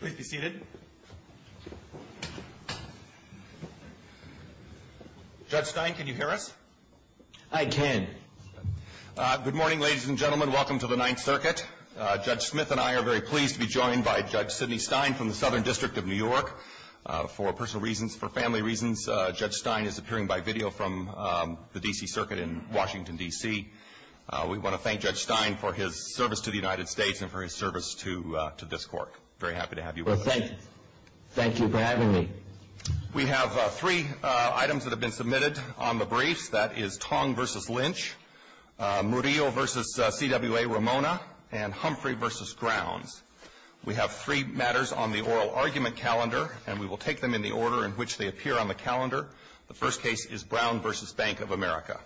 Please be seated. Judge Stein, can you hear us? I can. Good morning, ladies and gentlemen. Welcome to the Ninth Circuit. Judge Smith and I are very pleased to be joined by Judge Sidney Stein from the Southern District of New York. For personal reasons, for family reasons, Judge Stein is appearing by video from the D.C. Circuit in Washington, D.C. We want to thank Judge Stein for his service to the United States and for his service to this court. Very happy to have you with us. Thank you for having me. We have three items that have been submitted on the briefs. That is Tong v. Lynch, Murillo v. CWA Ramona, and Humphrey v. Grounds. We have three matters on the oral argument calendar, and we will take them in the order in which they appear on the calendar. The first case is Brown v. Bank of America.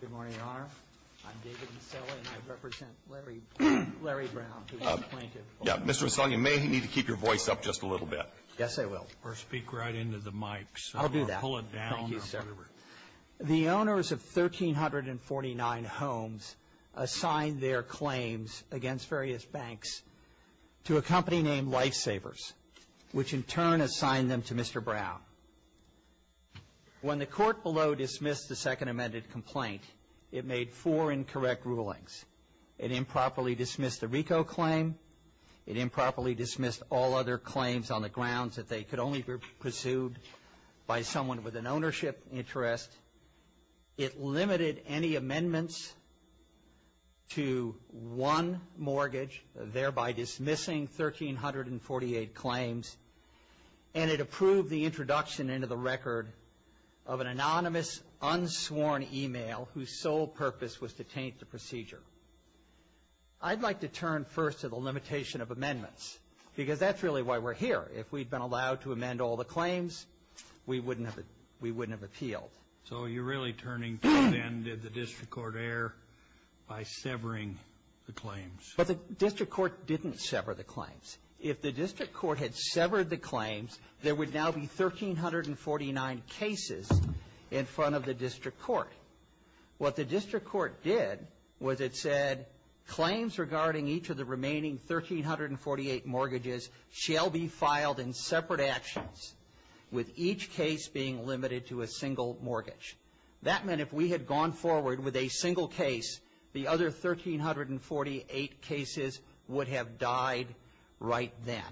Good morning, Your Honor. I'm David Masella, and I represent Larry Brown, who is a plaintiff. Yeah, Mr. Masella, you may need to keep your voice up just a little bit. Yes, I will. Or speak right into the mic. I'll do that. Pull it down. Thank you, sir. The owners of 1,349 homes assigned their claims against various banks to a company named Lifesavers, which in turn assigned them to Mr. Brown. When the court below dismissed the second amended complaint, it made four incorrect rulings. It improperly dismissed the RICO claim. It improperly dismissed all other claims on the grounds that they could only be pursued by someone with an ownership interest. It limited any amendments to one mortgage, thereby dismissing 1,348 claims. And it approved the introduction into the record of an anonymous, unsworn email whose sole purpose was to taint the procedure. I'd like to turn first to the limitation of amendments, because that's really why we're here. If we'd been allowed to amend all the claims, we wouldn't have appealed. So you're really turning to the end of the district court error by severing the claims. If the district court had severed the claims, there would now be 1,349 cases in front of the district court. What the district court did was it said claims regarding each of the remaining 1,348 mortgages shall be filed in separate actions, with each case being limited to a single mortgage. That meant if we had gone forward with a single case, the other 1,348 cases would have died right then.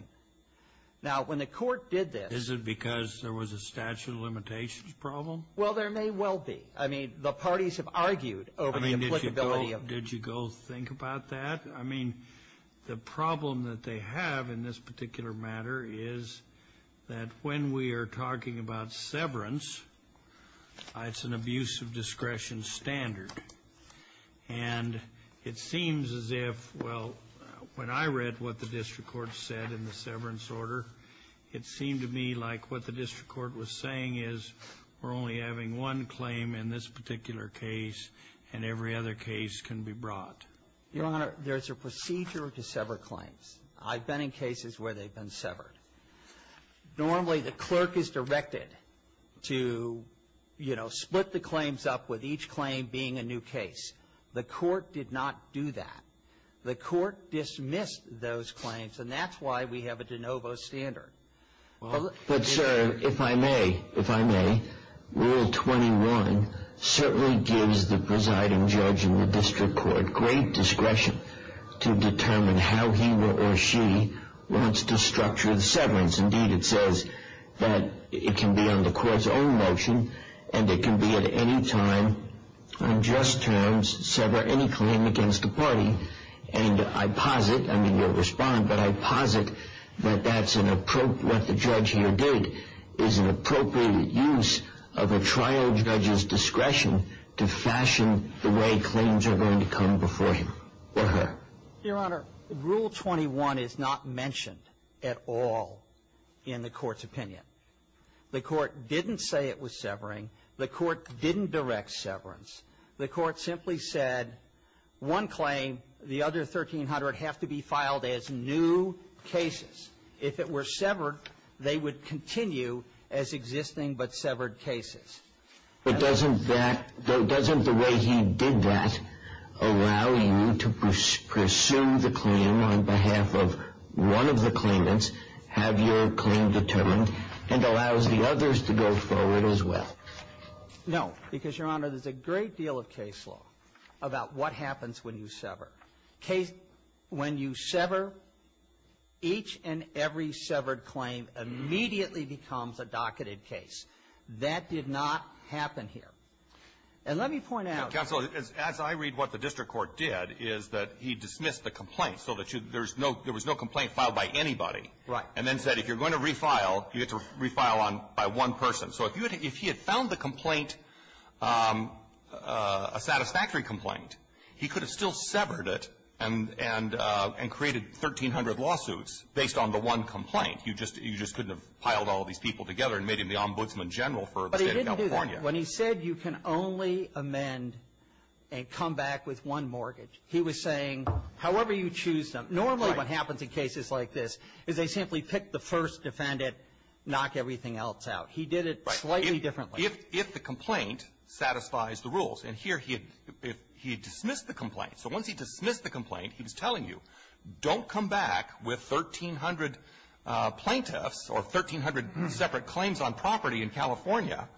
Now, when the court did this — Is it because there was a statute of limitations problem? Well, there may well be. I mean, the parties have argued over the applicability of — Did you go think about that? I mean, the problem that they have in this particular matter is that when we are talking about severance, it's an abuse of discretion standard. And it seems as if — well, when I read what the district court said in the severance order, it seemed to me like what the district court was saying is we're only having one claim in this particular case, and every other case can be brought. Your Honor, there's a procedure to sever claims. I've been in cases where they've been severed. Normally, the clerk is directed to, you know, split the claims up with each claim being a new case. The court did not do that. The court dismissed those claims, and that's why we have a de novo standard. But, sir, if I may, if I may, Rule 21 certainly gives the presiding judge in the district court great discretion to determine how he or she wants to structure the severance. Indeed, it says that it can be on the court's own motion, and it can be at any time on just terms, sever any claim against the party. And I posit — I mean, you'll respond, but I posit that that's an — what the judge here did is an appropriate use of a trial judge's discretion to fashion the way claims are going to come before him or her. Your Honor, Rule 21 is not mentioned at all in the court's opinion. The court didn't say it was severing. The court didn't direct severance. The court simply said one claim, the other 1,300, have to be filed as new cases. If it were severed, they would continue as existing but severed cases. But doesn't that — doesn't the way he did that allow you to pursue the claim on behalf of one of the claimants, have your claim determined, and allows the others to go forward as well? No. Because, Your Honor, there's a great deal of case law about what happens when you sever. When you sever, each and every severed claim immediately becomes a docketed case. That did not happen here. And let me point out — Counsel, as I read what the district court did is that he dismissed the complaint so that you — there was no complaint filed by anybody. Right. And then said, if you're going to refile, you have to refile on — by one person. So if you had — if he had found the complaint a satisfactory complaint, he could have still severed it and created 1,300 lawsuits based on the one complaint. You just couldn't have piled all these people together and made him the ombudsman general for the State of California. But he didn't do that. When he said you can only amend and come back with one mortgage, he was saying, however you choose them. Normally what happens in cases like this is they simply pick the first defendant, knock everything else out. He did it slightly differently. And here he had — he had dismissed the complaint. So once he dismissed the complaint, he was telling you, don't come back with 1,300 plaintiffs or 1,300 separate claims on property in California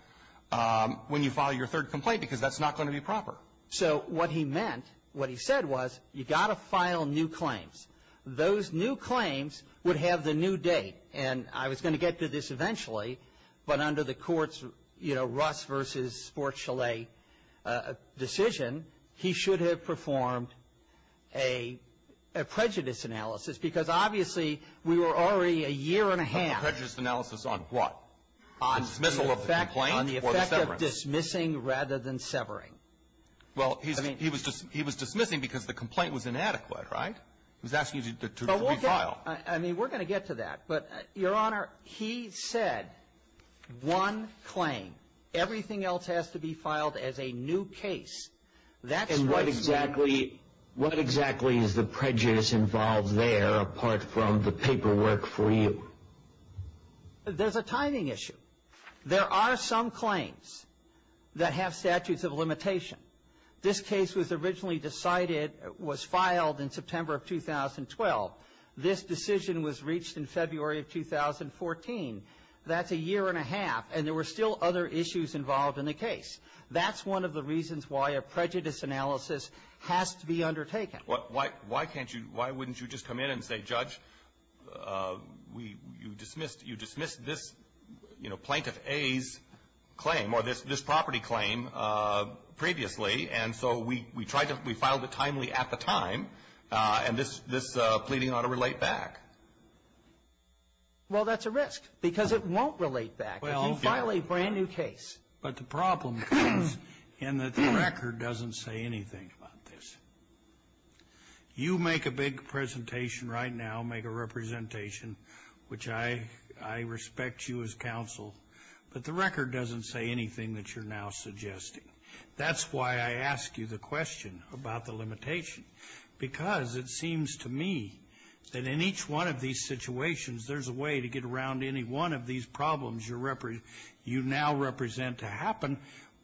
when you file your third complaint because that's not going to be proper. So what he meant, what he said was, you've got to file new claims. Those new claims would have the new date. And I was going to get to this eventually, but under the court's, you know, Russ v. Sports Chalet decision, he should have performed a prejudice analysis because obviously we were already a year and a half. A prejudice analysis on what? On dismissal of the complaint or the severance? On the effect of dismissing rather than severing. Well, he was dismissing because the complaint was inadequate, right? He was asking you to refile. I mean, we're going to get to that. But, Your Honor, he said one claim. Everything else has to be filed as a new case. That's what he said. What exactly is the prejudice involved there apart from the paperwork for you? There's a timing issue. There are some claims that have statutes of limitation. This case was originally decided — was filed in September of 2012. This decision was reached in February of 2014. That's a year and a half, and there were still other issues involved in the case. That's one of the reasons why a prejudice analysis has to be undertaken. Well, why can't you — why wouldn't you just come in and say, Judge, we — you dismissed — you dismissed this, you know, Plaintiff A's claim or this property claim previously, and so we tried to — we filed it timely at the time. And this — this pleading ought to relate back. Well, that's a risk, because it won't relate back if you file a brand-new case. But the problem comes in that the record doesn't say anything about this. You make a big presentation right now, make a representation, which I — I respect you as counsel, but the record doesn't say anything that you're now suggesting. That's why I ask you the question about the limitation, because it seems to me that in each one of these situations, there's a way to get around any one of these problems you're — you now represent to happen,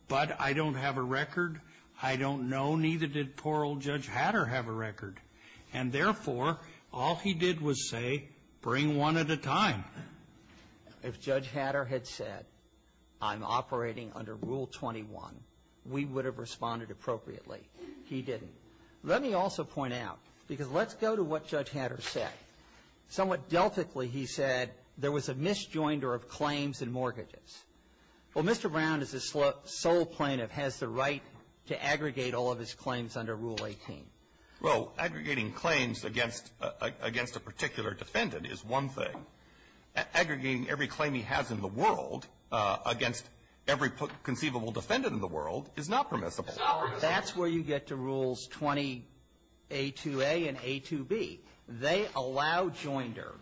but I don't have a record. I don't know, neither did poor old Judge Hatter have a record. And therefore, all he did was say, bring one at a time. If Judge Hatter had said, I'm operating under Rule 21, we would have responded appropriately. He didn't. Let me also point out, because let's go to what Judge Hatter said. Somewhat deltically, he said there was a misjoinder of claims and mortgages. Well, Mr. Brown, as a sole plaintiff, has the right to aggregate all of his claims under Rule 18. Well, aggregating claims against — against a particular defendant is one thing. Aggregating every claim he has in the world against every conceivable defendant in the world is not permissible. That's where you get to Rules 20a2a and a2b. They allow joinder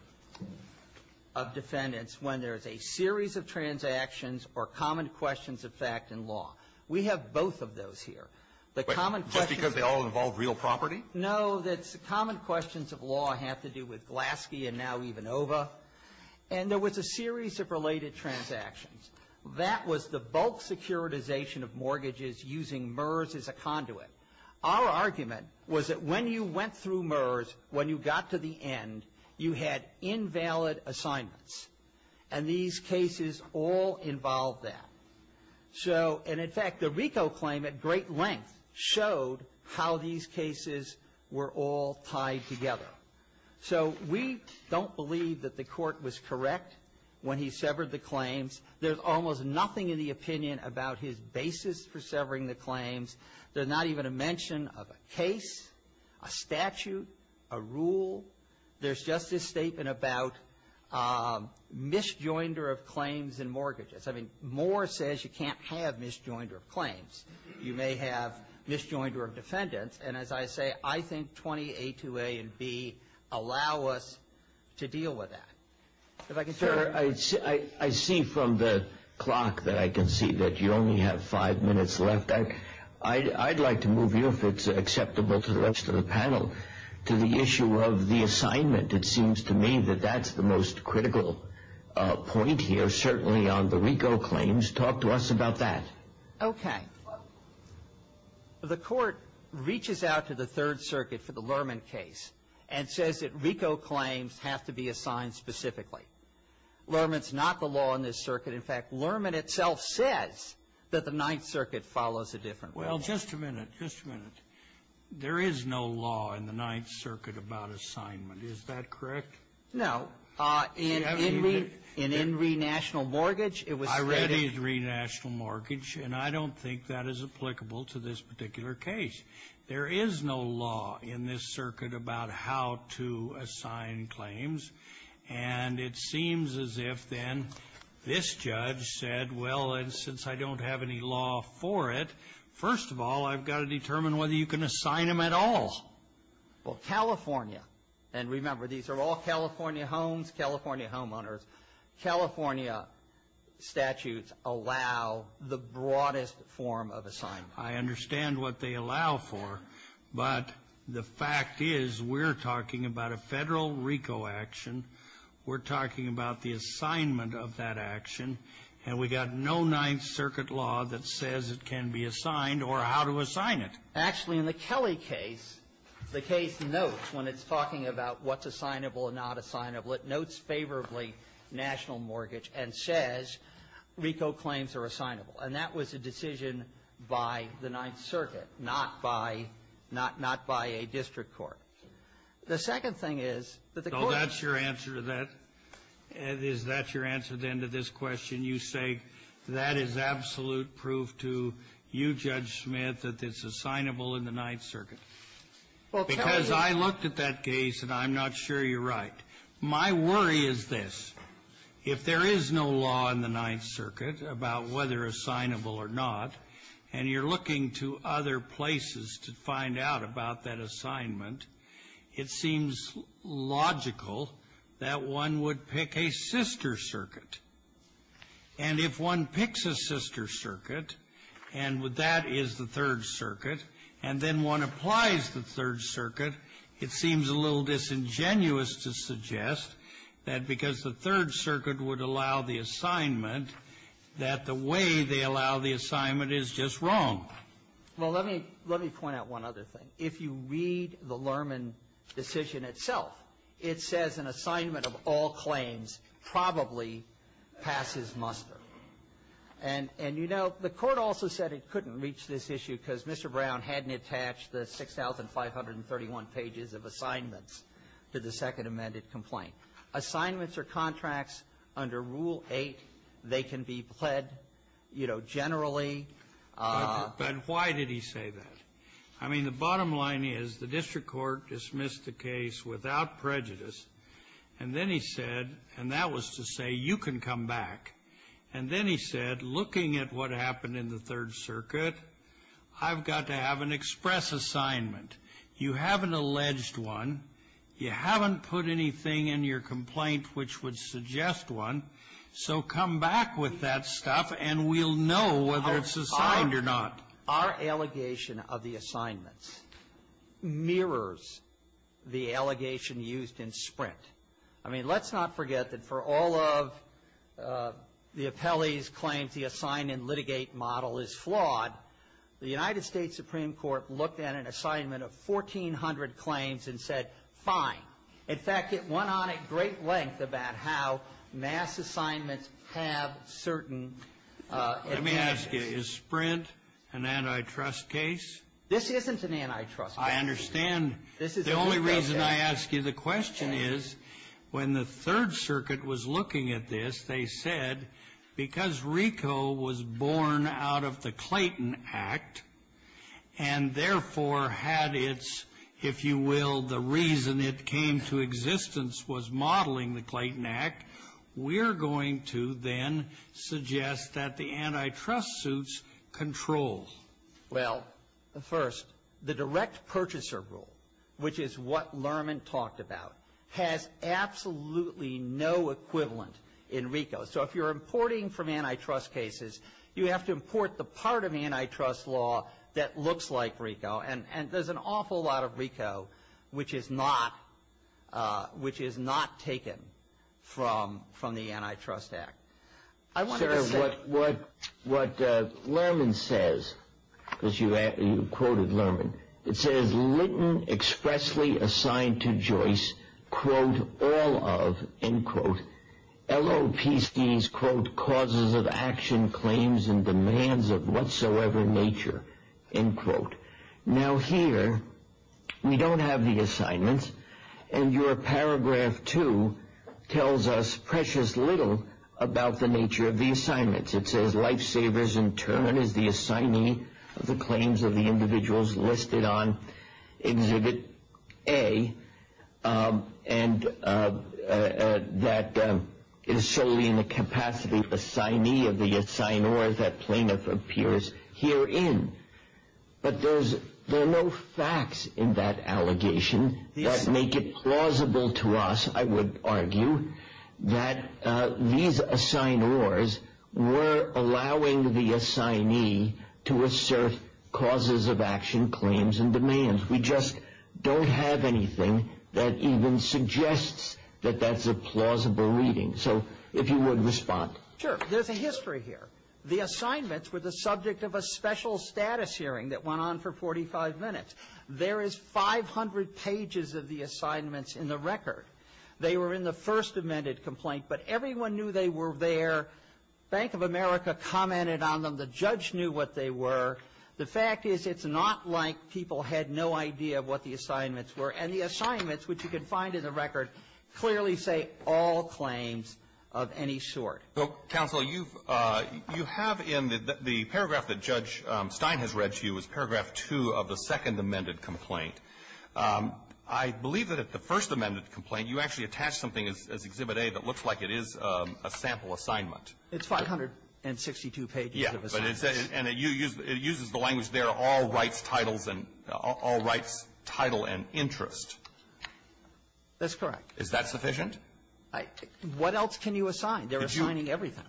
of defendants when there's a series of transactions or common questions of fact in law. We have both of those here. The common questions of law have to do with Glaske and now even OVA. And there was a series of related transactions. That was the bulk securitization of mortgages using MERS as a conduit. Our argument was that when you went through MERS, when you got to the end, you had invalid assignments. And these cases all involve that. So — and, in fact, the RICO claim at great length showed how these cases were all tied together. So we don't believe that the Court was correct when he severed the claims. There's almost nothing in the opinion about his basis for severing the claims. There's not even a mention of a case, a statute, a rule. There's just this statement about misjoinder of claims and mortgages. I mean, Moore says you can't have misjoinder of claims. You may have misjoinder of defendants. And, as I say, I think 20a2a and b allow us to deal with that. If I can — Sir, I see from the clock that I can see that you only have five minutes left. I'd like to move you, if it's acceptable to the rest of the panel, to the issue of the assignment. It seems to me that that's the most critical point here, certainly on the RICO claims. Talk to us about that. Okay. The Court reaches out to the Third Circuit for the Lerman case and says that RICO claims have to be assigned specifically. Lerman's not the law in this circuit. In fact, Lerman itself says that the Ninth Circuit follows a different rule. Well, just a minute. Just a minute. There is no law in the Ninth Circuit about assignment. Is that correct? No. In Enree — In Enree National Mortgage, it was readied. I readied Enree National Mortgage, and I don't think that is applicable to this particular case. There is no law in this circuit about how to assign claims. And it seems as if, then, this judge said, well, and since I don't have any law for it, first of all, I've got to determine whether you can assign them at all. Well, California — and remember, these are all California homes, California homeowners. California statutes allow the broadest form of assignment. I understand what they allow for, but the fact is we're talking about a federal RICO action. We're talking about the assignment of that action, and we've got no Ninth Circuit law that says it can be assigned or how to assign it. Actually, in the Kelly case, the case notes when it's talking about what's assignable and not assignable, it notes favorably National Mortgage and says RICO claims are assignable. And that was a decision by the Ninth Circuit, not by — not by a district court. The second thing is that the court — So that's your answer to that? Is that your answer, then, to this question? You say that is absolute proof to you, Judge Smith, that it's assignable in the Ninth Circuit. Because I looked at that case, and I'm not sure you're right. My worry is this. If there is no law in the Ninth Circuit about whether assignable or not, and you're looking to other places to find out about that assignment, it seems logical that one would pick a sister circuit. And if one picks a sister circuit, and that is the Third Circuit, and then one applies the Third Circuit, it seems a little disingenuous to suggest that because the Third Circuit would allow the assignment, that the way they allow the assignment is just wrong. Well, let me — let me point out one other thing. If you read the Lerman decision itself, it says an assignment of all claims probably passes muster. And — and, you know, the Court also said it couldn't reach this issue because Mr. Brown hadn't attached the 6,531 pages of assignments to the second amended complaint. Assignments are contracts under Rule 8. They can be pled, you know, generally. But why did he say that? I mean, the bottom line is the district court dismissed the case without prejudice, and then he said — and that was to say you can come back. And then he said, looking at what happened in the Third Circuit, I've got to have an express assignment. You have an alleged one. You haven't put anything in your complaint which would suggest one. So come back with that stuff, and we'll know whether it's assigned or not. Our allegation of the assignments mirrors the allegation used in Sprint. I mean, let's not forget that for all of the appellee's claims, the assign and litigate model is flawed. The United States Supreme Court looked at an assignment of 1,400 claims and said, fine. In fact, it went on at great length about how mass assignments have certain advantages. Is Sprint an antitrust case? This isn't an antitrust case. I understand. The only reason I ask you the question is, when the Third Circuit was looking at this, they said, because RICO was born out of the Clayton Act, and therefore had its, if you will, the reason it came to existence was modeling the Clayton Act, we're going to then suggest that the antitrust suits control. Well, first, the direct purchaser rule, which is what Lerman talked about, has absolutely no equivalent in RICO. So if you're importing from antitrust cases, you have to import the part of antitrust law that looks like RICO, and there's an awful lot of RICO which is not taken from the Antitrust Act. Sir, what Lerman says, because you quoted Lerman, it says, Litten expressly assigned to Joyce, quote, all of, end quote, LOPC's, quote, causes of action claims and demands of whatsoever nature, end quote. Now here, we don't have the assignments, and your paragraph two tells us precious little about the nature of the assignments. It says, life savers in turn is the assignee of the claims of the individuals listed on exhibit A, and that is solely in the capacity of the assignee, of the assignee, or as that plaintiff appears herein. But there's, there are no facts in that allegation that make it plausible to us, I would argue, that these assignors were allowing the assignee to assert causes of action claims and demands. We just don't have anything that even suggests that that's a plausible reading. So if you would respond. Sure. There's a history here. The assignments were the subject of a special status hearing that went on for 45 minutes. There is 500 pages of the assignments in the record. They were in the first amended complaint, but everyone knew they were there. Bank of America commented on them. The judge knew what they were. The fact is, it's not like people had no idea what the assignments were. And the assignments, which you can find in the record, clearly say all claims of any sort. Well, counsel, you've, you have in the paragraph that Judge Stein has read to you is paragraph two of the second amended complaint. I believe that at the first amended complaint, you actually attach something as Exhibit A that looks like it is a sample assignment. It's 562 pages of assignments. And it uses the language there, all rights, titles, and all rights, title, and interest. That's correct. Is that sufficient? What else can you assign? They're assigning everything.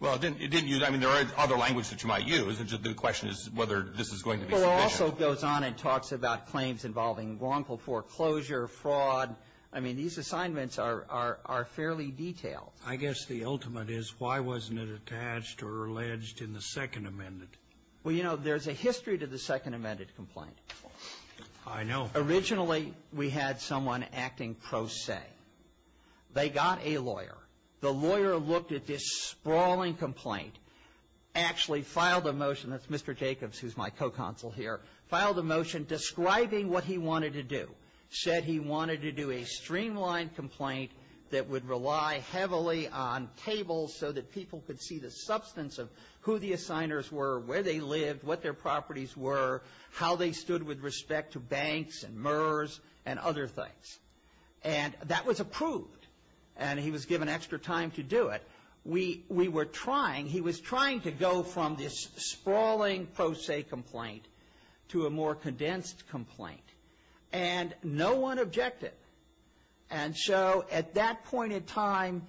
Well, it didn't use, I mean, there are other languages that you might use. The question is whether this is going to be sufficient. It also goes on and talks about claims involving wrongful foreclosure, fraud. I mean, these assignments are fairly detailed. I guess the ultimate is why wasn't it attached or alleged in the second amended? Well, you know, there's a history to the second amended complaint. I know. Originally, we had someone acting pro se. They got a lawyer. The lawyer looked at this sprawling complaint, actually filed a motion. That's Mr. Jacobs, who's my co-counsel here, filed a motion describing what he wanted to do, said he wanted to do a streamlined complaint that would rely heavily on tables so that people could see the substance of who the assigners were, where they lived, what their properties were, how they stood with respect to banks and MERS and other things. And that was approved. And he was given extra time to do it. We were trying. He was trying to go from this sprawling pro se complaint to a more condensed complaint. And no one objected. And so at that point in time,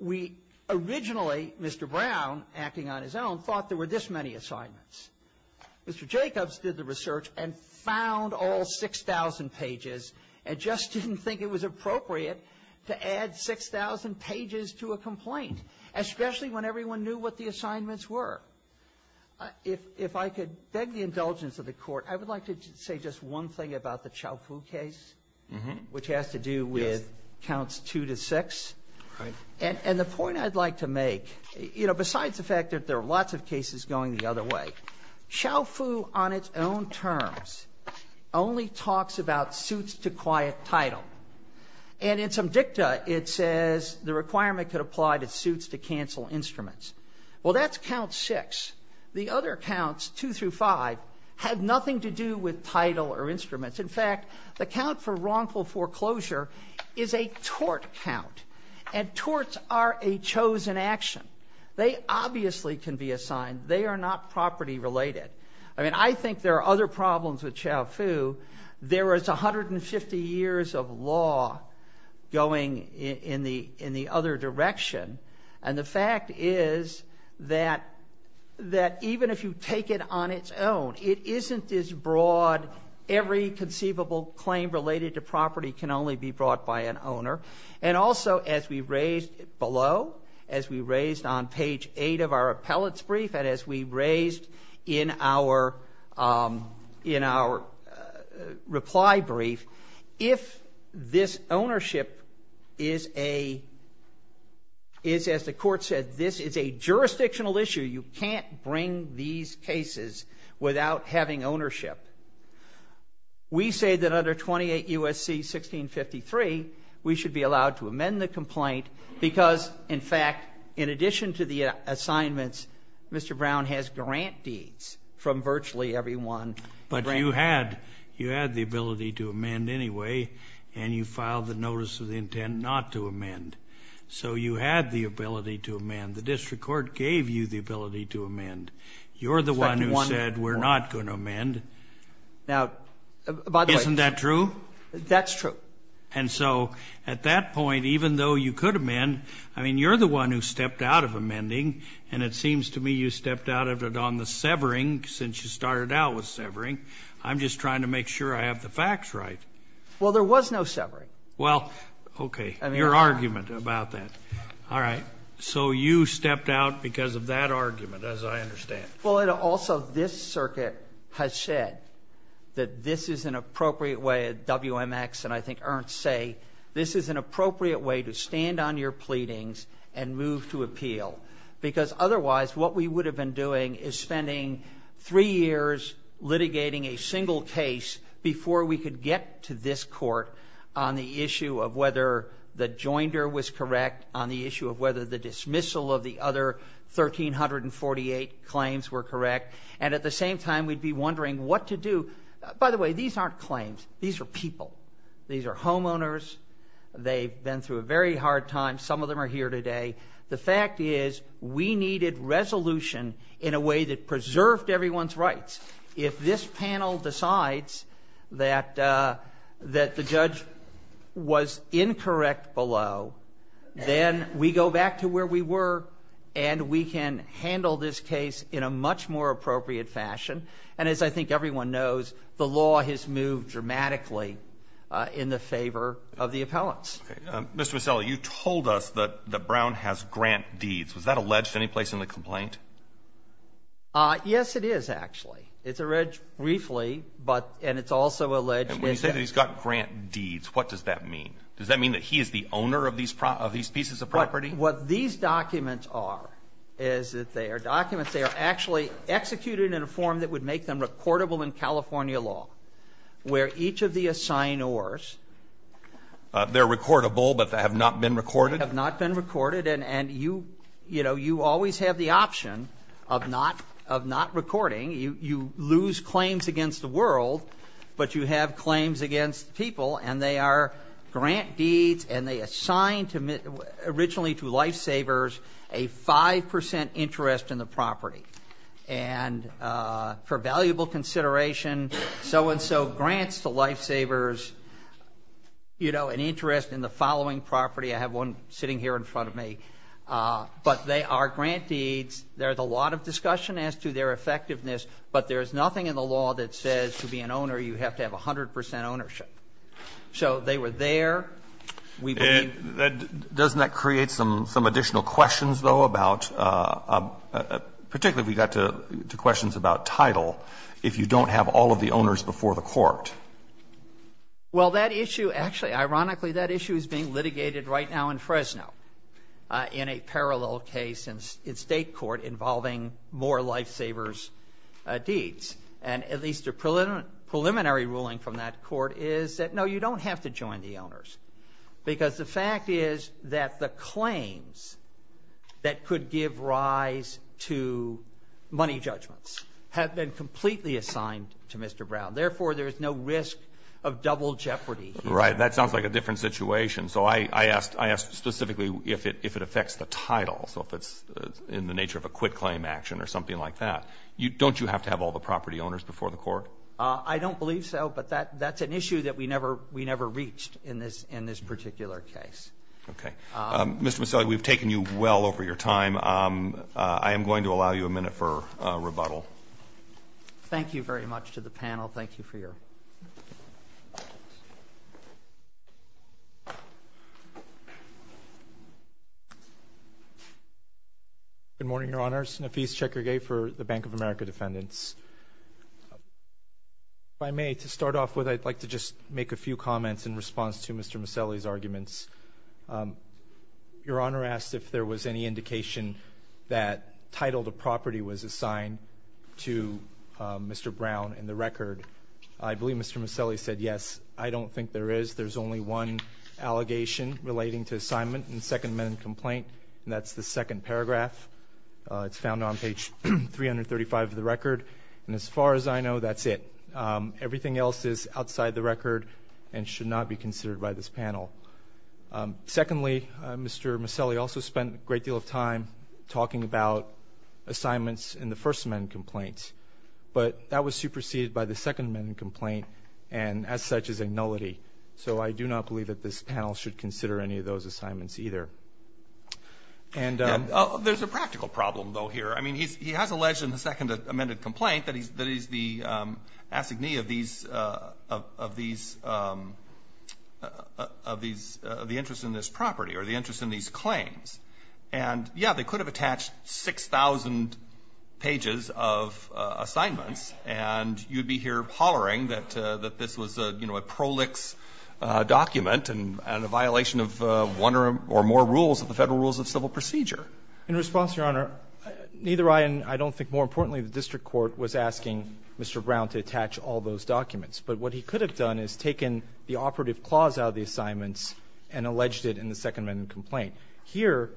we originally, Mr. Brown acting on his own, thought there were this many assignments. Mr. Jacobs did the research and found all 6,000 pages and just didn't think it was appropriate to add 6,000 pages to a complaint, especially when everyone knew what the assignments were. If I could beg the indulgence of the Court, I would like to say just one thing about the Chauffoux case, which has to do with counts 2 to 6. And the point I'd like to make, you know, besides the fact that there are lots of cases going the other way, Chauffoux on its own terms only talks about suits to quiet title. And in some dicta, it says the requirement could apply to suits to cancel instruments. Well, that's count 6. The other counts, 2 through 5, have nothing to do with title or instruments. In fact, the count for wrongful foreclosure is a tort count. And torts are a chosen action. They obviously can be assigned. They are not property related. I mean, I think there are other problems with Chauffoux. There is 150 years of law going in the other direction. And the fact is that even if you take it on its own, it isn't as broad. Every conceivable claim related to property can only be brought by an owner. And also, as we raised below, as we raised on page 8 of our appellate's brief, and as we raised in our reply brief, if this ownership is a, as the court said, this is a jurisdictional issue, you can't bring these cases without having ownership. We say that under 28 U.S.C. 1653, we should be allowed to amend the complaint because in fact, in addition to the assignments, Mr. Brown has grant deeds from virtually everyone. But you had, you had the ability to amend anyway, and you filed the notice of the intent not to amend. So you had the ability to amend. You're the one who said we're not going to amend. Now, by the way- Isn't that true? That's true. And so at that point, even though you could amend, I mean, you're the one who stepped out of amending, and it seems to me you stepped out of it on the severing, since you started out with severing. I'm just trying to make sure I have the facts right. Well, there was no severing. Well, okay. Your argument about that. All right. So you stepped out because of that argument, as I understand. Well, and also this circuit has said that this is an appropriate way, WMX and I think Ernst say, this is an appropriate way to stand on your pleadings and move to appeal. Because otherwise, what we would have been doing is spending three years litigating a single case before we could get to this court on the issue of whether the joinder was correct on the issue of whether the dismissal of the other 1,348 claims were correct. And at the same time, we'd be wondering what to do. By the way, these aren't claims. These are people. These are homeowners. They've been through a very hard time. Some of them are here today. The fact is, we needed resolution in a way that preserved everyone's rights. If this panel decides that the judge was incorrect below, then we go back to where we were and we can handle this case in a much more appropriate fashion. And as I think everyone knows, the law has moved dramatically in the favor of the appellants. Mr. Mazzella, you told us that Brown has grant deeds. Was that alleged any place in the complaint? Yes, it is, actually. It's alleged briefly, but – and it's also alleged – And when you say that he's got grant deeds, what does that mean? Does that mean that he is the owner of these pieces of property? What these documents are is that they are documents that are actually executed in a form that would make them recordable in California law, where each of the assignors They're recordable, but have not been recorded? Have not been recorded. And you always have the option of not recording. You lose claims against the world, but you have claims against people. And they are grant deeds, and they assign originally to lifesavers a 5 percent interest in the property. And for valuable consideration, so-and-so grants the lifesavers, you know, an interest in the following property. I have one sitting here in front of me. But they are grant deeds. There's a lot of discussion as to their effectiveness, but there's nothing in the law that says to be an owner, you have to have 100 percent ownership. So they were there. We believe – Doesn't that create some additional questions, though, about – particularly if we got to questions about title, if you don't have all of the owners before the court? Well, that issue – actually, ironically, that issue is being litigated right now in Fresno in a parallel case in state court involving more lifesavers' deeds. And at least a preliminary ruling from that court is that, no, you don't have to join the owners. Because the fact is that the claims that could give rise to money judgments have been completely assigned to Mr. Brown. Therefore, there is no risk of double jeopardy here. Right. That sounds like a different situation. So I asked specifically if it affects the title, so if it's in the nature of a quit claim action or something like that. Don't you have to have all the property owners before the court? I don't believe so, but that's an issue that we never reached in this particular case. Okay. Mr. Mazzelli, we've taken you well over your time. I am going to allow you a minute for rebuttal. Thank you very much to the panel. Thank you for your comments. Good morning, Your Honors. Nafis Cekirge for the Bank of America Defendants. If I may, to start off with, I'd like to just make a few comments in response to Mr. Mazzelli's arguments. Your Honor asked if there was any indication that title to property was assigned to Mr. Brown in the record. I believe Mr. Mazzelli said yes. I don't think there is. There's only one allegation relating to assignment in the second amended complaint, and that's the second paragraph. It's found on page 335 of the record, and as far as I know, that's it. Everything else is outside the record and should not be considered by this panel. Secondly, Mr. Mazzelli also spent a great deal of time talking about assignments in the first amended complaint. But that was superseded by the second amended complaint, and as such is a nullity. So I do not believe that this panel should consider any of those assignments either. There's a practical problem, though, here. I mean, he has alleged in the second amended complaint that he's the assignee of the interest in this property or the interest in these claims. And, yes, they could have attached 6,000 pages of assignments, and you'd be here hollering that this was a prolix document and a violation of one or more rules of the Federal Rules of Civil Procedure. In response, Your Honor, neither I and I don't think more importantly the district court was asking Mr. Brown to attach all those documents. But what he could have done is taken the operative clause out of the assignments and alleged it in the second amended complaint. Here,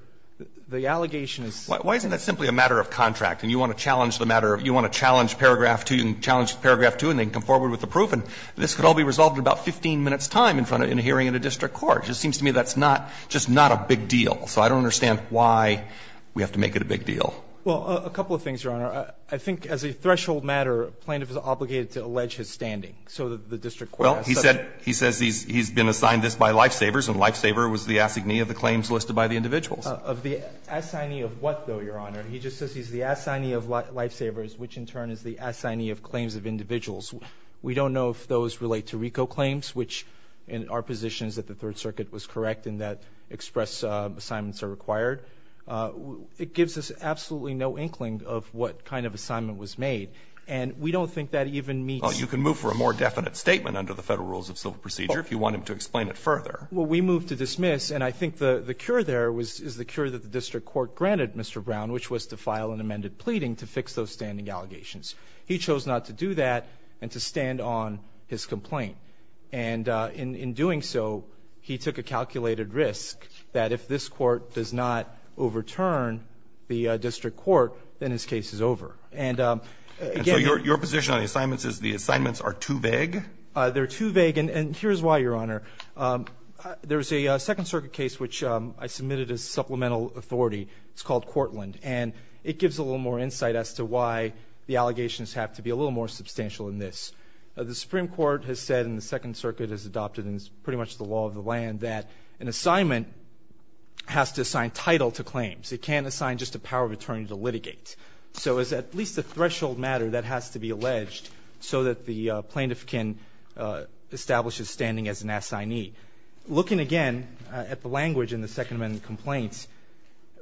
the allegation is. Why isn't that simply a matter of contract? And you want to challenge the matter of you want to challenge paragraph 2, you can challenge paragraph 2, and then come forward with the proof, and this could all be resolved in about 15 minutes' time in front of in a hearing in a district court. It just seems to me that's not, just not a big deal. So I don't understand why we have to make it a big deal. Well, a couple of things, Your Honor. I think as a threshold matter, the plaintiff is obligated to allege his standing. So the district court has said that. Well, he said he's been assigned this by Lifesavers, and Lifesaver was the assignee of the claims listed by the individuals. Of the assignee of what, though, Your Honor? He just says he's the assignee of Lifesavers, which in turn is the assignee of claims of individuals. We don't know if those relate to RICO claims, which in our position is that the Third Circuit was correct in that express assignments are required. It gives us absolutely no inkling of what kind of assignment was made. And we don't think that even meets. Well, you can move for a more definite statement under the Federal Rules of Civil Procedure if you want him to explain it further. Well, we move to dismiss, and I think the cure there was the cure that the district court granted Mr. Brown, which was to file an amended pleading to fix those standing allegations. He chose not to do that and to stand on his complaint. And in doing so, he took a calculated risk that if this Court does not overturn the district court, then his case is over. And again the assignments are too vague. They're too vague. And here's why, Your Honor. There's a Second Circuit case which I submitted as supplemental authority. It's called Courtland. And it gives a little more insight as to why the allegations have to be a little more substantial than this. The Supreme Court has said, and the Second Circuit has adopted, and it's pretty much the law of the land, that an assignment has to assign title to claims. It can't assign just a power of attorney to litigate. So it's at least a threshold matter that has to be alleged so that the plaintiff can establish his standing as an assignee. Looking again at the language in the Second Amendment complaints,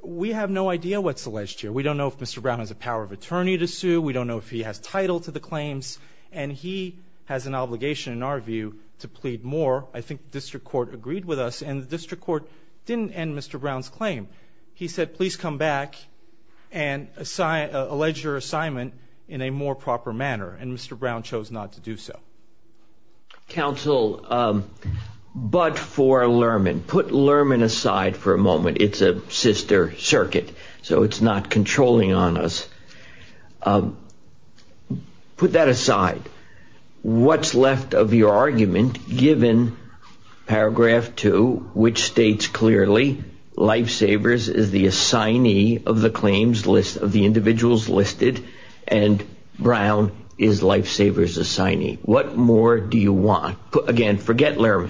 we have no idea what's alleged here. We don't know if Mr. Brown has a power of attorney to sue. We don't know if he has title to the claims. And he has an obligation, in our view, to plead more. I think the district court agreed with us. And the district court didn't end Mr. Brown's claim. He said, please come back and allege your assignment in a more proper manner. And Mr. Brown chose not to do so. Counsel, but for Lerman, put Lerman aside for a moment. It's a sister circuit, so it's not controlling on us. Put that aside. What's left of your argument, given paragraph two, which states clearly Lifesavers is the assignee of the claims list of the individuals listed, and Brown is Lifesavers' assignee? What more do you want? Again, forget Lerman.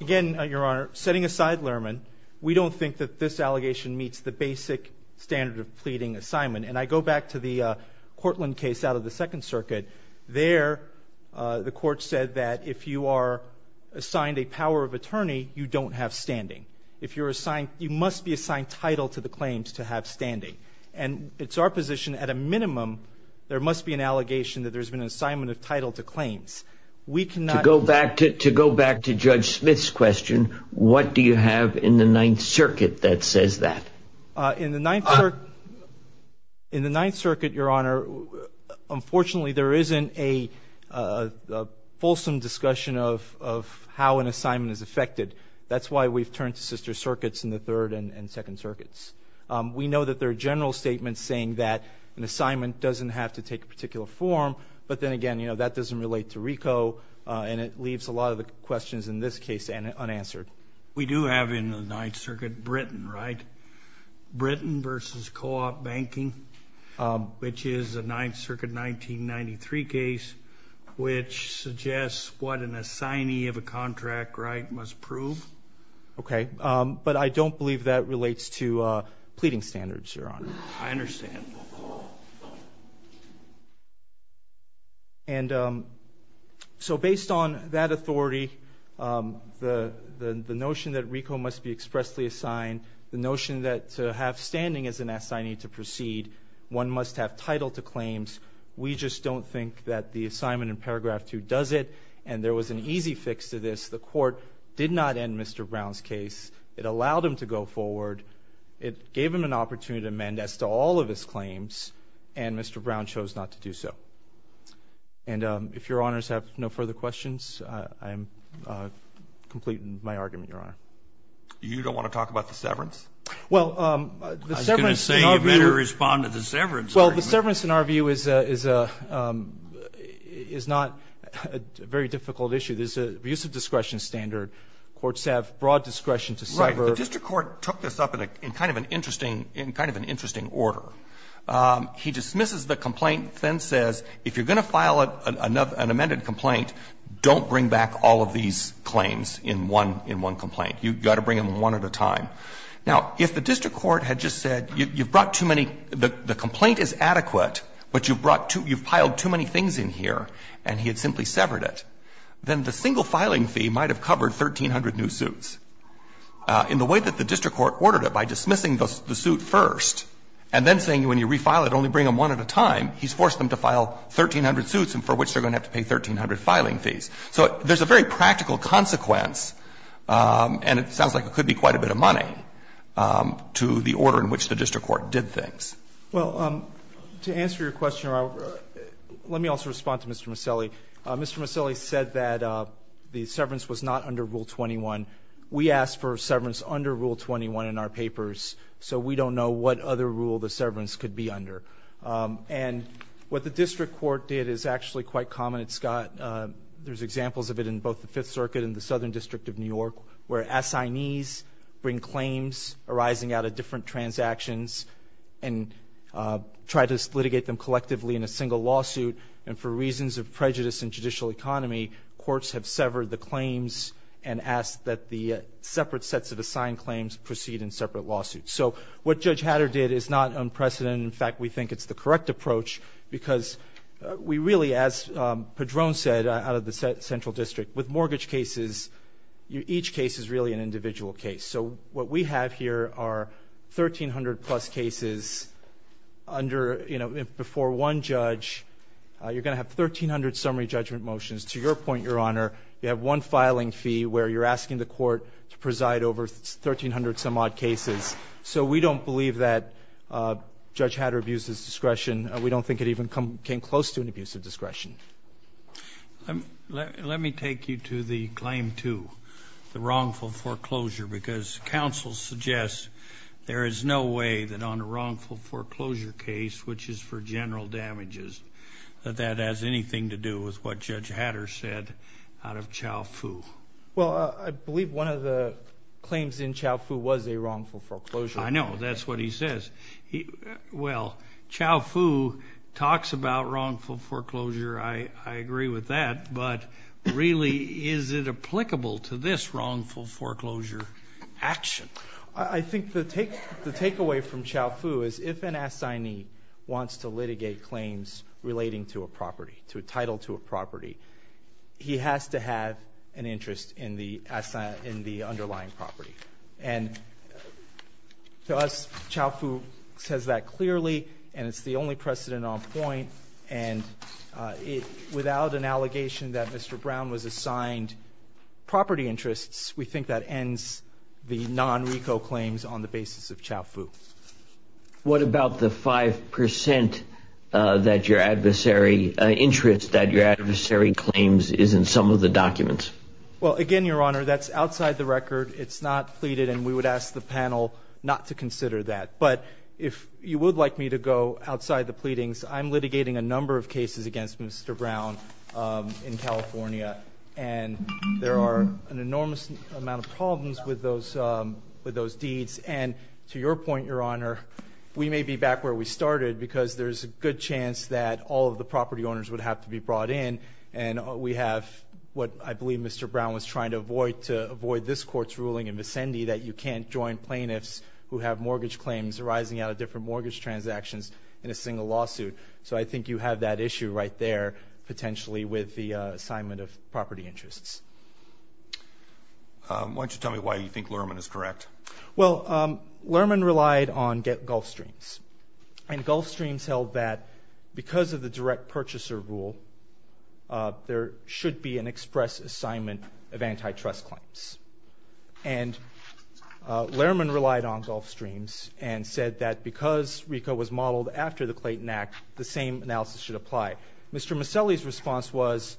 Again, Your Honor, setting aside Lerman, we don't think that this allegation meets the basic standard of pleading assignment. And I go back to the Cortland case out of the Second Circuit. There, the court said that if you are assigned a power of attorney, you don't have standing. If you're assigned, you must be assigned title to the claims to have standing. And it's our position, at a minimum, there must be an allegation that there's been an assignment of title to claims. We cannot- To go back to Judge Smith's question, what do you have in the Ninth Circuit that says that? In the Ninth Circuit, Your Honor, unfortunately, there isn't a fulsome discussion of how an assignment is affected. That's why we've turned to sister circuits in the Third and Second Circuits. We know that there are general statements saying that an assignment doesn't have to take a particular form. But then again, that doesn't relate to RICO, and it leaves a lot of the questions in this case unanswered. We do have in the Ninth Circuit Britain, right? Britain versus co-op banking, which is a Ninth Circuit 1993 case, which suggests what an assignee of a contract right must prove. Okay. But I don't believe that relates to pleading standards, Your Honor. I understand. And so, based on that authority, the notion that RICO must be expressly assigned, the notion that to have standing as an assignee to proceed, one must have title to claims. We just don't think that the assignment in paragraph two does it. And there was an easy fix to this. The court did not end Mr. Brown's case. It allowed him to go forward. It gave him an opportunity to amend as to all of his claims. And Mr. Brown chose not to do so. And if Your Honors have no further questions, I am completing my argument, Your Honor. You don't want to talk about the severance? Well, the severance in our view... I was going to say you better respond to the severance argument. Well, the severance in our view is not a very difficult issue. There's an abuse of discretion standard. Courts have broad discretion to sever. Right. The district court took this up in kind of an interesting order. He dismisses the complaint, then says, if you're going to file an amended complaint, don't bring back all of these claims in one complaint. You've got to bring them one at a time. Now, if the district court had just said, you've brought too many, the complaint is adequate, but you've brought too many, you've piled too many things in here, and he had simply severed it, then the single filing fee might have covered 1,300 new suits. In the way that the district court ordered it, by dismissing the suit first and then saying when you refile it, only bring them one at a time, he's forced them to file 1,300 suits, and for which they're going to have to pay 1,300 filing fees. So there's a very practical consequence, and it sounds like it could be quite a bit of money, to the order in which the district court did things. Well, to answer your question, let me also respond to Mr. Maselli. Mr. Maselli said that the severance was not under Rule 21. We asked for severance under Rule 21 in our papers, so we don't know what other rule the severance could be under. And what the district court did is actually quite common. It's got – there's examples of it in both the Fifth Circuit and the Southern District of New York, where assignees bring claims arising out of different transactions and try to litigate them collectively in a single lawsuit, and for reasons of prejudice in judicial economy, courts have severed the claims and asked that the separate sets of assigned claims proceed in separate lawsuits. So what Judge Hatter did is not unprecedented. In fact, we think it's the correct approach because we really, as Padron said, out of the Central District, with mortgage cases, each case is really an individual case. So what we have here are 1,300-plus cases under, you know, before one judge. You're going to have 1,300 summary judgment motions. To your point, Your Honor, you have one filing fee where you're asking the court to preside over 1,300-some-odd cases. So we don't believe that Judge Hatter abused his discretion. Let me take you to the claim 2, the wrongful foreclosure, because counsel suggests there is no way that on a wrongful foreclosure case, which is for general damages, that that has anything to do with what Judge Hatter said out of Chau Foo. Well, I believe one of the claims in Chau Foo was a wrongful foreclosure. I know. That's what he says. Well, Chau Foo talks about wrongful foreclosure. I agree with that. But really, is it applicable to this wrongful foreclosure action? I think the takeaway from Chau Foo is if an assignee wants to litigate claims relating to a property, to a title to a property, he has to have an interest in the underlying property. And to us, Chau Foo says that clearly, and it's the only precedent on point. And without an allegation that Mr. Brown was assigned property interests, we think that ends the non-RECO claims on the basis of Chau Foo. What about the 5% interest that your adversary claims is in some of the documents? Well, again, Your Honor, that's outside the record. It's not pleaded, and we would ask the panel not to consider that. But if you would like me to go outside the pleadings, I'm litigating a number of cases against Mr. Brown in California. And there are an enormous amount of problems with those deeds. And to your point, Your Honor, we may be back where we started because there's a good chance that all of the property owners would have to be brought in. And we have what I believe Mr. Brown was trying to avoid to avoid this court's claims arising out of different mortgage transactions in a single lawsuit. So I think you have that issue right there, potentially, with the assignment of property interests. Why don't you tell me why you think Lerman is correct? Well, Lerman relied on GetGulfStreams. And GulfStreams held that because of the direct purchaser rule, there should be an express assignment of antitrust claims. And Lerman relied on GulfStreams and said that because RICO was modeled after the Clayton Act, the same analysis should apply. Mr. Maselli's response was,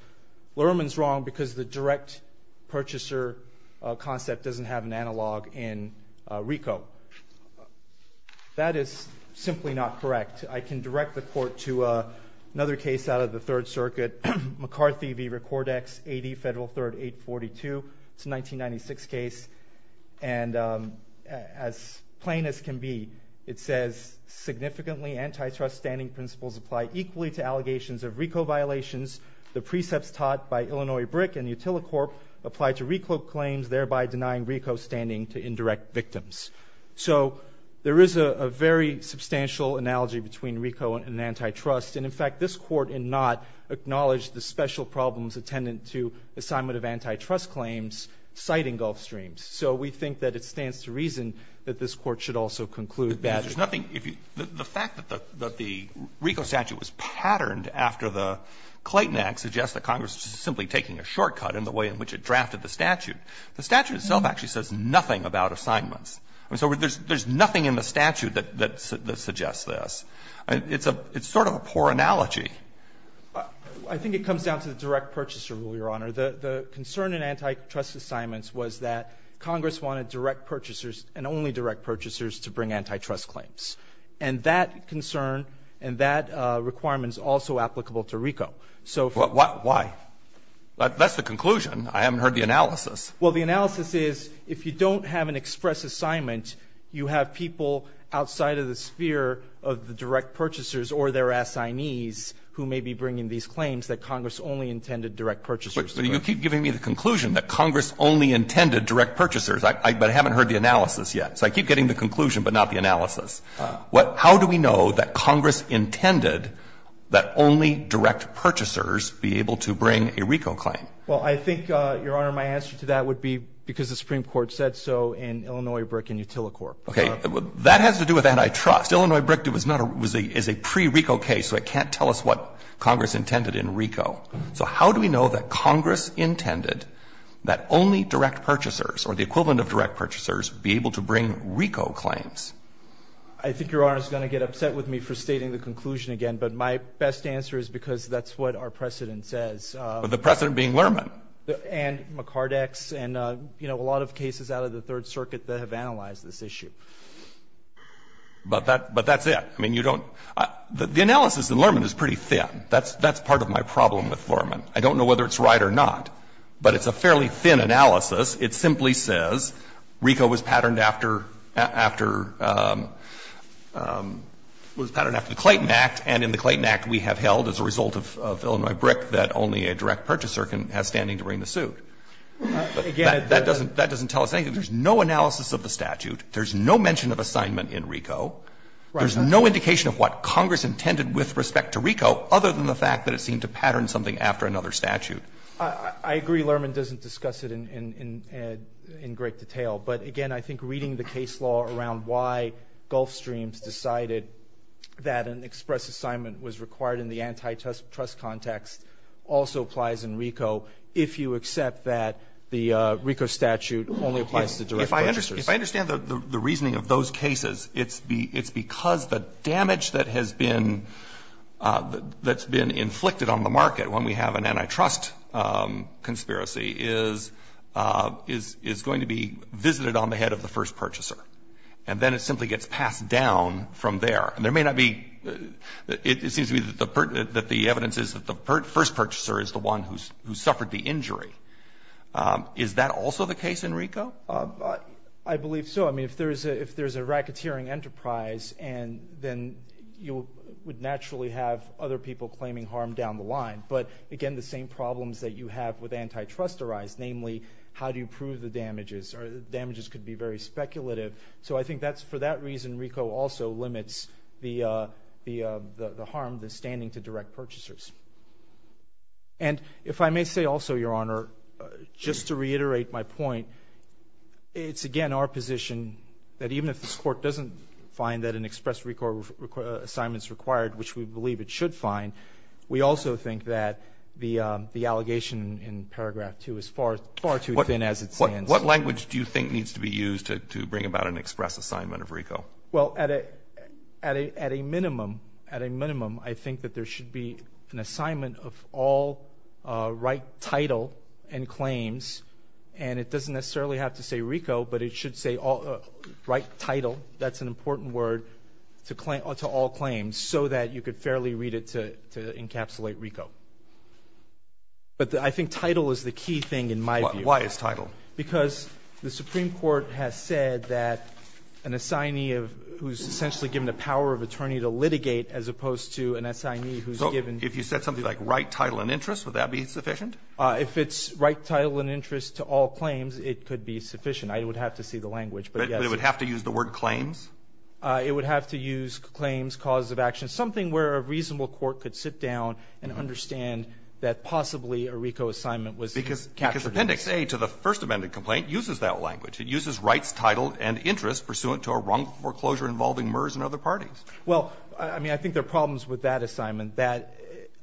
Lerman's wrong because the direct purchaser concept doesn't have an analog in RICO. That is simply not correct. I can direct the court to another case out of the Third Circuit, McCarthy v. Recordex, 80 Federal 3rd 842, it's a 1996 case. And as plain as can be, it says, significantly antitrust standing principles apply equally to allegations of RICO violations. The precepts taught by Illinois BRIC and Utilicorp apply to RICO claims, thereby denying RICO standing to indirect victims. So there is a very substantial analogy between RICO and antitrust. And in fact, this Court did not acknowledge the special problems attendant to assignment of antitrust claims citing GulfStreams. So we think that it stands to reason that this Court should also conclude that. Robertson The fact that the RICO statute was patterned after the Clayton Act suggests that Congress is simply taking a shortcut in the way in which it drafted the statute. The statute itself actually says nothing about assignments. So there's nothing in the statute that suggests this. It's a, it's sort of a poor analogy. I think it comes down to the direct purchaser rule, Your Honor. The, the concern in antitrust assignments was that Congress wanted direct purchasers and only direct purchasers to bring antitrust claims. And that concern and that requirement is also applicable to RICO. So, why? That's the conclusion. I haven't heard the analysis. Well, the analysis is, if you don't have an express assignment, you have people outside of the sphere of the direct purchasers or their assignees who may be bringing these claims that Congress only intended direct purchasers to bring. But you keep giving me the conclusion that Congress only intended direct purchasers. I, I, but I haven't heard the analysis yet. So I keep getting the conclusion but not the analysis. What, how do we know that Congress intended that only direct purchasers be able to bring a RICO claim? Well, I think, Your Honor, my answer to that would be because the Supreme Court said so in Illinois BRIC and Utilicorp. Okay. That has to do with antitrust. Illinois BRIC is not a, is a pre-RICO case, so it can't tell us what Congress intended in RICO. So how do we know that Congress intended that only direct purchasers or the equivalent of direct purchasers be able to bring RICO claims? I think Your Honor is going to get upset with me for stating the conclusion again, but my best answer is because that's what our precedent says. But the precedent being Lerman. And McCardex and, you know, a lot of cases out of the Third Circuit that have analyzed this issue. But that, but that's it. I mean, you don't, the analysis in Lerman is pretty thin. That's, that's part of my problem with Lerman. I don't know whether it's right or not, but it's a fairly thin analysis. It simply says RICO was patterned after, after, was patterned after the Clayton Act. And in the Clayton Act, we have held as a result of Illinois BRIC that only a direct purchaser can, has standing to bring the suit. Again, that doesn't, that doesn't tell us anything. There's no analysis of the statute. There's no mention of assignment in RICO. There's no indication of what Congress intended with respect to RICO, other than the fact that it seemed to pattern something after another statute. I agree Lerman doesn't discuss it in, in, in, in great detail. But again, I think reading the case law around why Gulfstreams decided that an express assignment was required in the antitrust context also applies in RICO, if you accept that the RICO statute only applies to direct purchasers. If I understand the reasoning of those cases, it's because the damage that has been, that's been inflicted on the market when we have an antitrust conspiracy is, is, is going to be visited on the head of the first purchaser. And then it simply gets passed down from there. And there may not be, it seems to me that the evidence is that the first purchaser is the one who suffered the injury. Is that also the case in RICO? I believe so. I mean, if there's a, if there's a racketeering enterprise, and then you would naturally have other people claiming harm down the line. But again, the same problems that you have with antitrust arise, namely, how do you prove the damages? Or the damages could be very speculative. So I think that's, for that reason, RICO also limits the the the harm, the standing to direct purchasers. And if I may say also, Your Honor, just to reiterate my point, it's again, our position that even if this court doesn't find that an express RICO assignment is required, which we believe it should find. We also think that the, the allegation in paragraph two is far, far too thin as it stands. What language do you think needs to be used to bring about an express assignment of RICO? Well, at a, at a, at a minimum, at a minimum, I think that there should be an assignment of all right title and claims. And it doesn't necessarily have to say RICO, but it should say all, right title. That's an important word to claim, to all claims, so that you could fairly read it to, to encapsulate RICO. But the, I think title is the key thing in my view. Why, why is title? Because the Supreme Court has said that an assignee of, who's essentially given the power of attorney to litigate as opposed to an assignee who's given. If you said something like right title and interest, would that be sufficient? If it's right title and interest to all claims, it could be sufficient. I would have to see the language, but yes. But it would have to use the word claims? It would have to use claims, cause of action. Something where a reasonable court could sit down and understand that possibly a RICO assignment was captured. Because Appendix A to the First Amendment complaint uses that language. It uses rights, title, and interest pursuant to a wrongful foreclosure involving MERS and other parties. Well, I mean, I think there are problems with that assignment. That,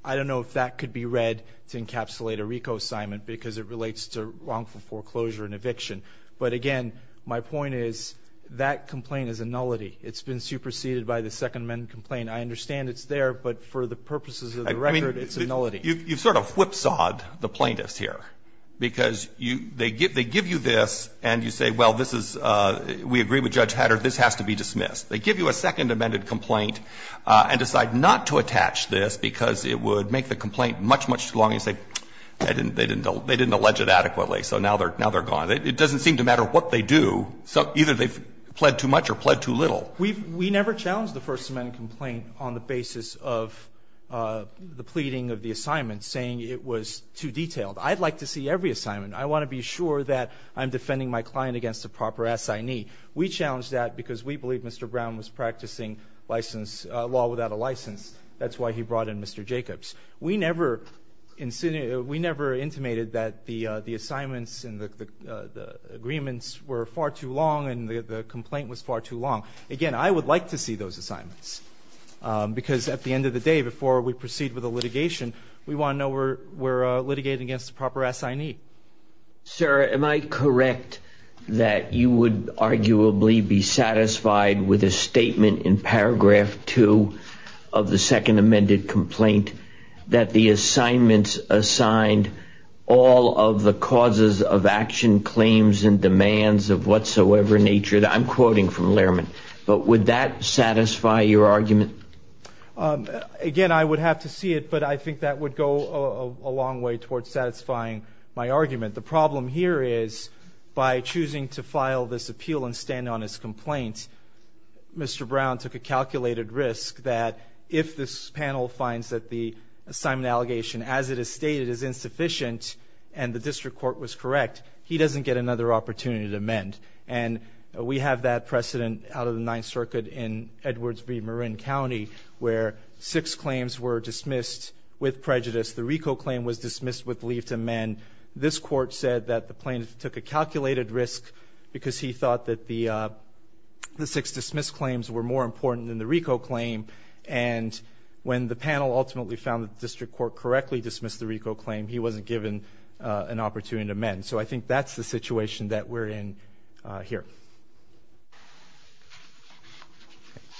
I don't know if that could be read to encapsulate a RICO assignment, because it relates to wrongful foreclosure and eviction. But again, my point is, that complaint is a nullity. It's been superseded by the Second Amendment complaint. I understand it's there, but for the purposes of the record, it's a nullity. I mean, you've sort of whipsawed the plaintiffs here. Because you they give you this and you say, well, this is, we agree with Judge Hatter, this has to be dismissed. They give you a Second Amendment complaint and decide not to attach this because it would make the complaint much, much too long, and you say, they didn't, they didn't allege it adequately, so now they're gone. It doesn't seem to matter what they do, either they've pled too much or pled too little. We've never challenged the First Amendment complaint on the basis of the pleading of the assignment saying it was too detailed. I'd like to see every assignment. I want to be sure that I'm defending my client against a proper assignee. We challenge that because we believe Mr. Brown was practicing law without a license. That's why he brought in Mr. Jacobs. We never intimated that the assignments and the agreements were far too long and the complaint was far too long. Again, I would like to see those assignments, because at the end of the day, before we proceed with the litigation, we want to know we're, we're litigating against the proper assignee. Sir, am I correct that you would arguably be satisfied with a statement in paragraph two of the second amended complaint that the assignments assigned all of the causes of action claims and demands of whatsoever nature. I'm quoting from Lehrman, but would that satisfy your argument? Again, I would have to see it, but I think that would go a long way towards satisfying my argument. The problem here is by choosing to file this appeal and stand on his complaint. Mr. Brown took a calculated risk that if this panel finds that the assignment allegation as it is stated is insufficient and the district court was correct, he doesn't get another opportunity to amend. And we have that precedent out of the Ninth Circuit in Edwards v. Marin County, where six claims were dismissed with prejudice. The RICO claim was dismissed with leave to amend. This court said that the plaintiff took a calculated risk because he thought that the six dismissed claims were more important than the RICO claim. And when the panel ultimately found that the district court correctly dismissed And so I think that's the situation that we're in here.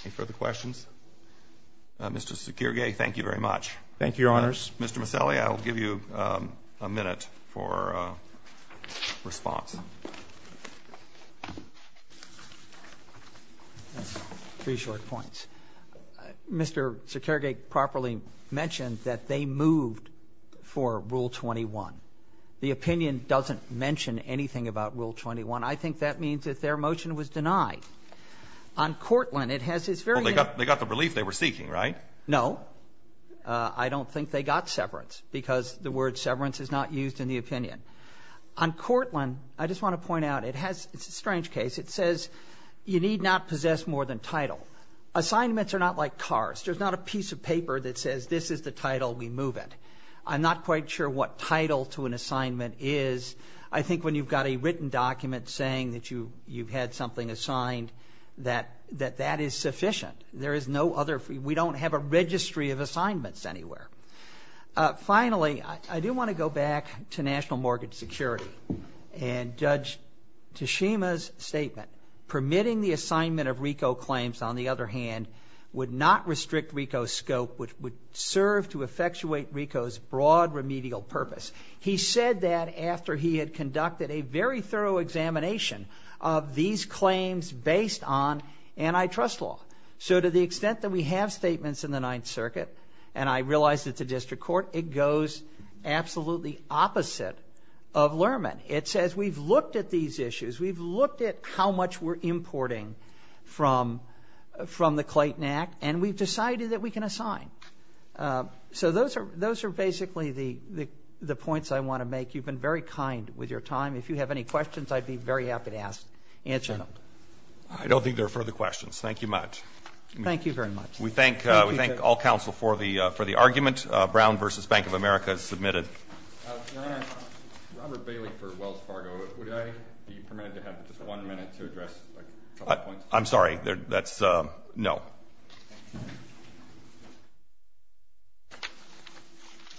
Any further questions? Mr. Sekirge, thank you very much. Thank you, Your Honors. Mr. Maselli, I will give you a minute for response. Three short points. Mr. Sekirge properly mentioned that they moved for rule 21. The opinion doesn't mention anything about rule 21. I think that means that their motion was denied. On Cortland, it has this very ---- Well, they got the relief they were seeking, right? No. I don't think they got severance because the word severance is not used in the opinion. On Cortland, I just want to point out, it has this strange case. It says you need not possess more than title. Assignments are not like cars. There's not a piece of paper that says this is the title, we move it. I'm not quite sure what title to an assignment is. I think when you've got a written document saying that you've had something assigned, that that is sufficient. There is no other ---- we don't have a registry of assignments anywhere. Finally, I do want to go back to national mortgage security. And Judge Tashima's statement, permitting the assignment of RICO claims, on the other hand, would not restrict RICO's scope, which would serve to effectuate RICO's broad remedial purpose. He said that after he had conducted a very thorough examination of these claims based on antitrust law. So to the extent that we have statements in the Ninth Circuit, and I realize it's a district court, it goes absolutely opposite of Lerman. It says we've looked at these issues. We've looked at how much we're importing from the Clayton Act, and we've decided that we can assign. So those are basically the points I want to make. You've been very kind with your time. If you have any questions, I'd be very happy to answer them. I don't think there are further questions. Thank you much. Thank you very much. We thank all counsel for the argument. Brown v. Bank of America has submitted. Your Honor, Robert Bailey for Wells Fargo. Would I be permitted to have just one minute to address a couple of points? I'm sorry. That's a no.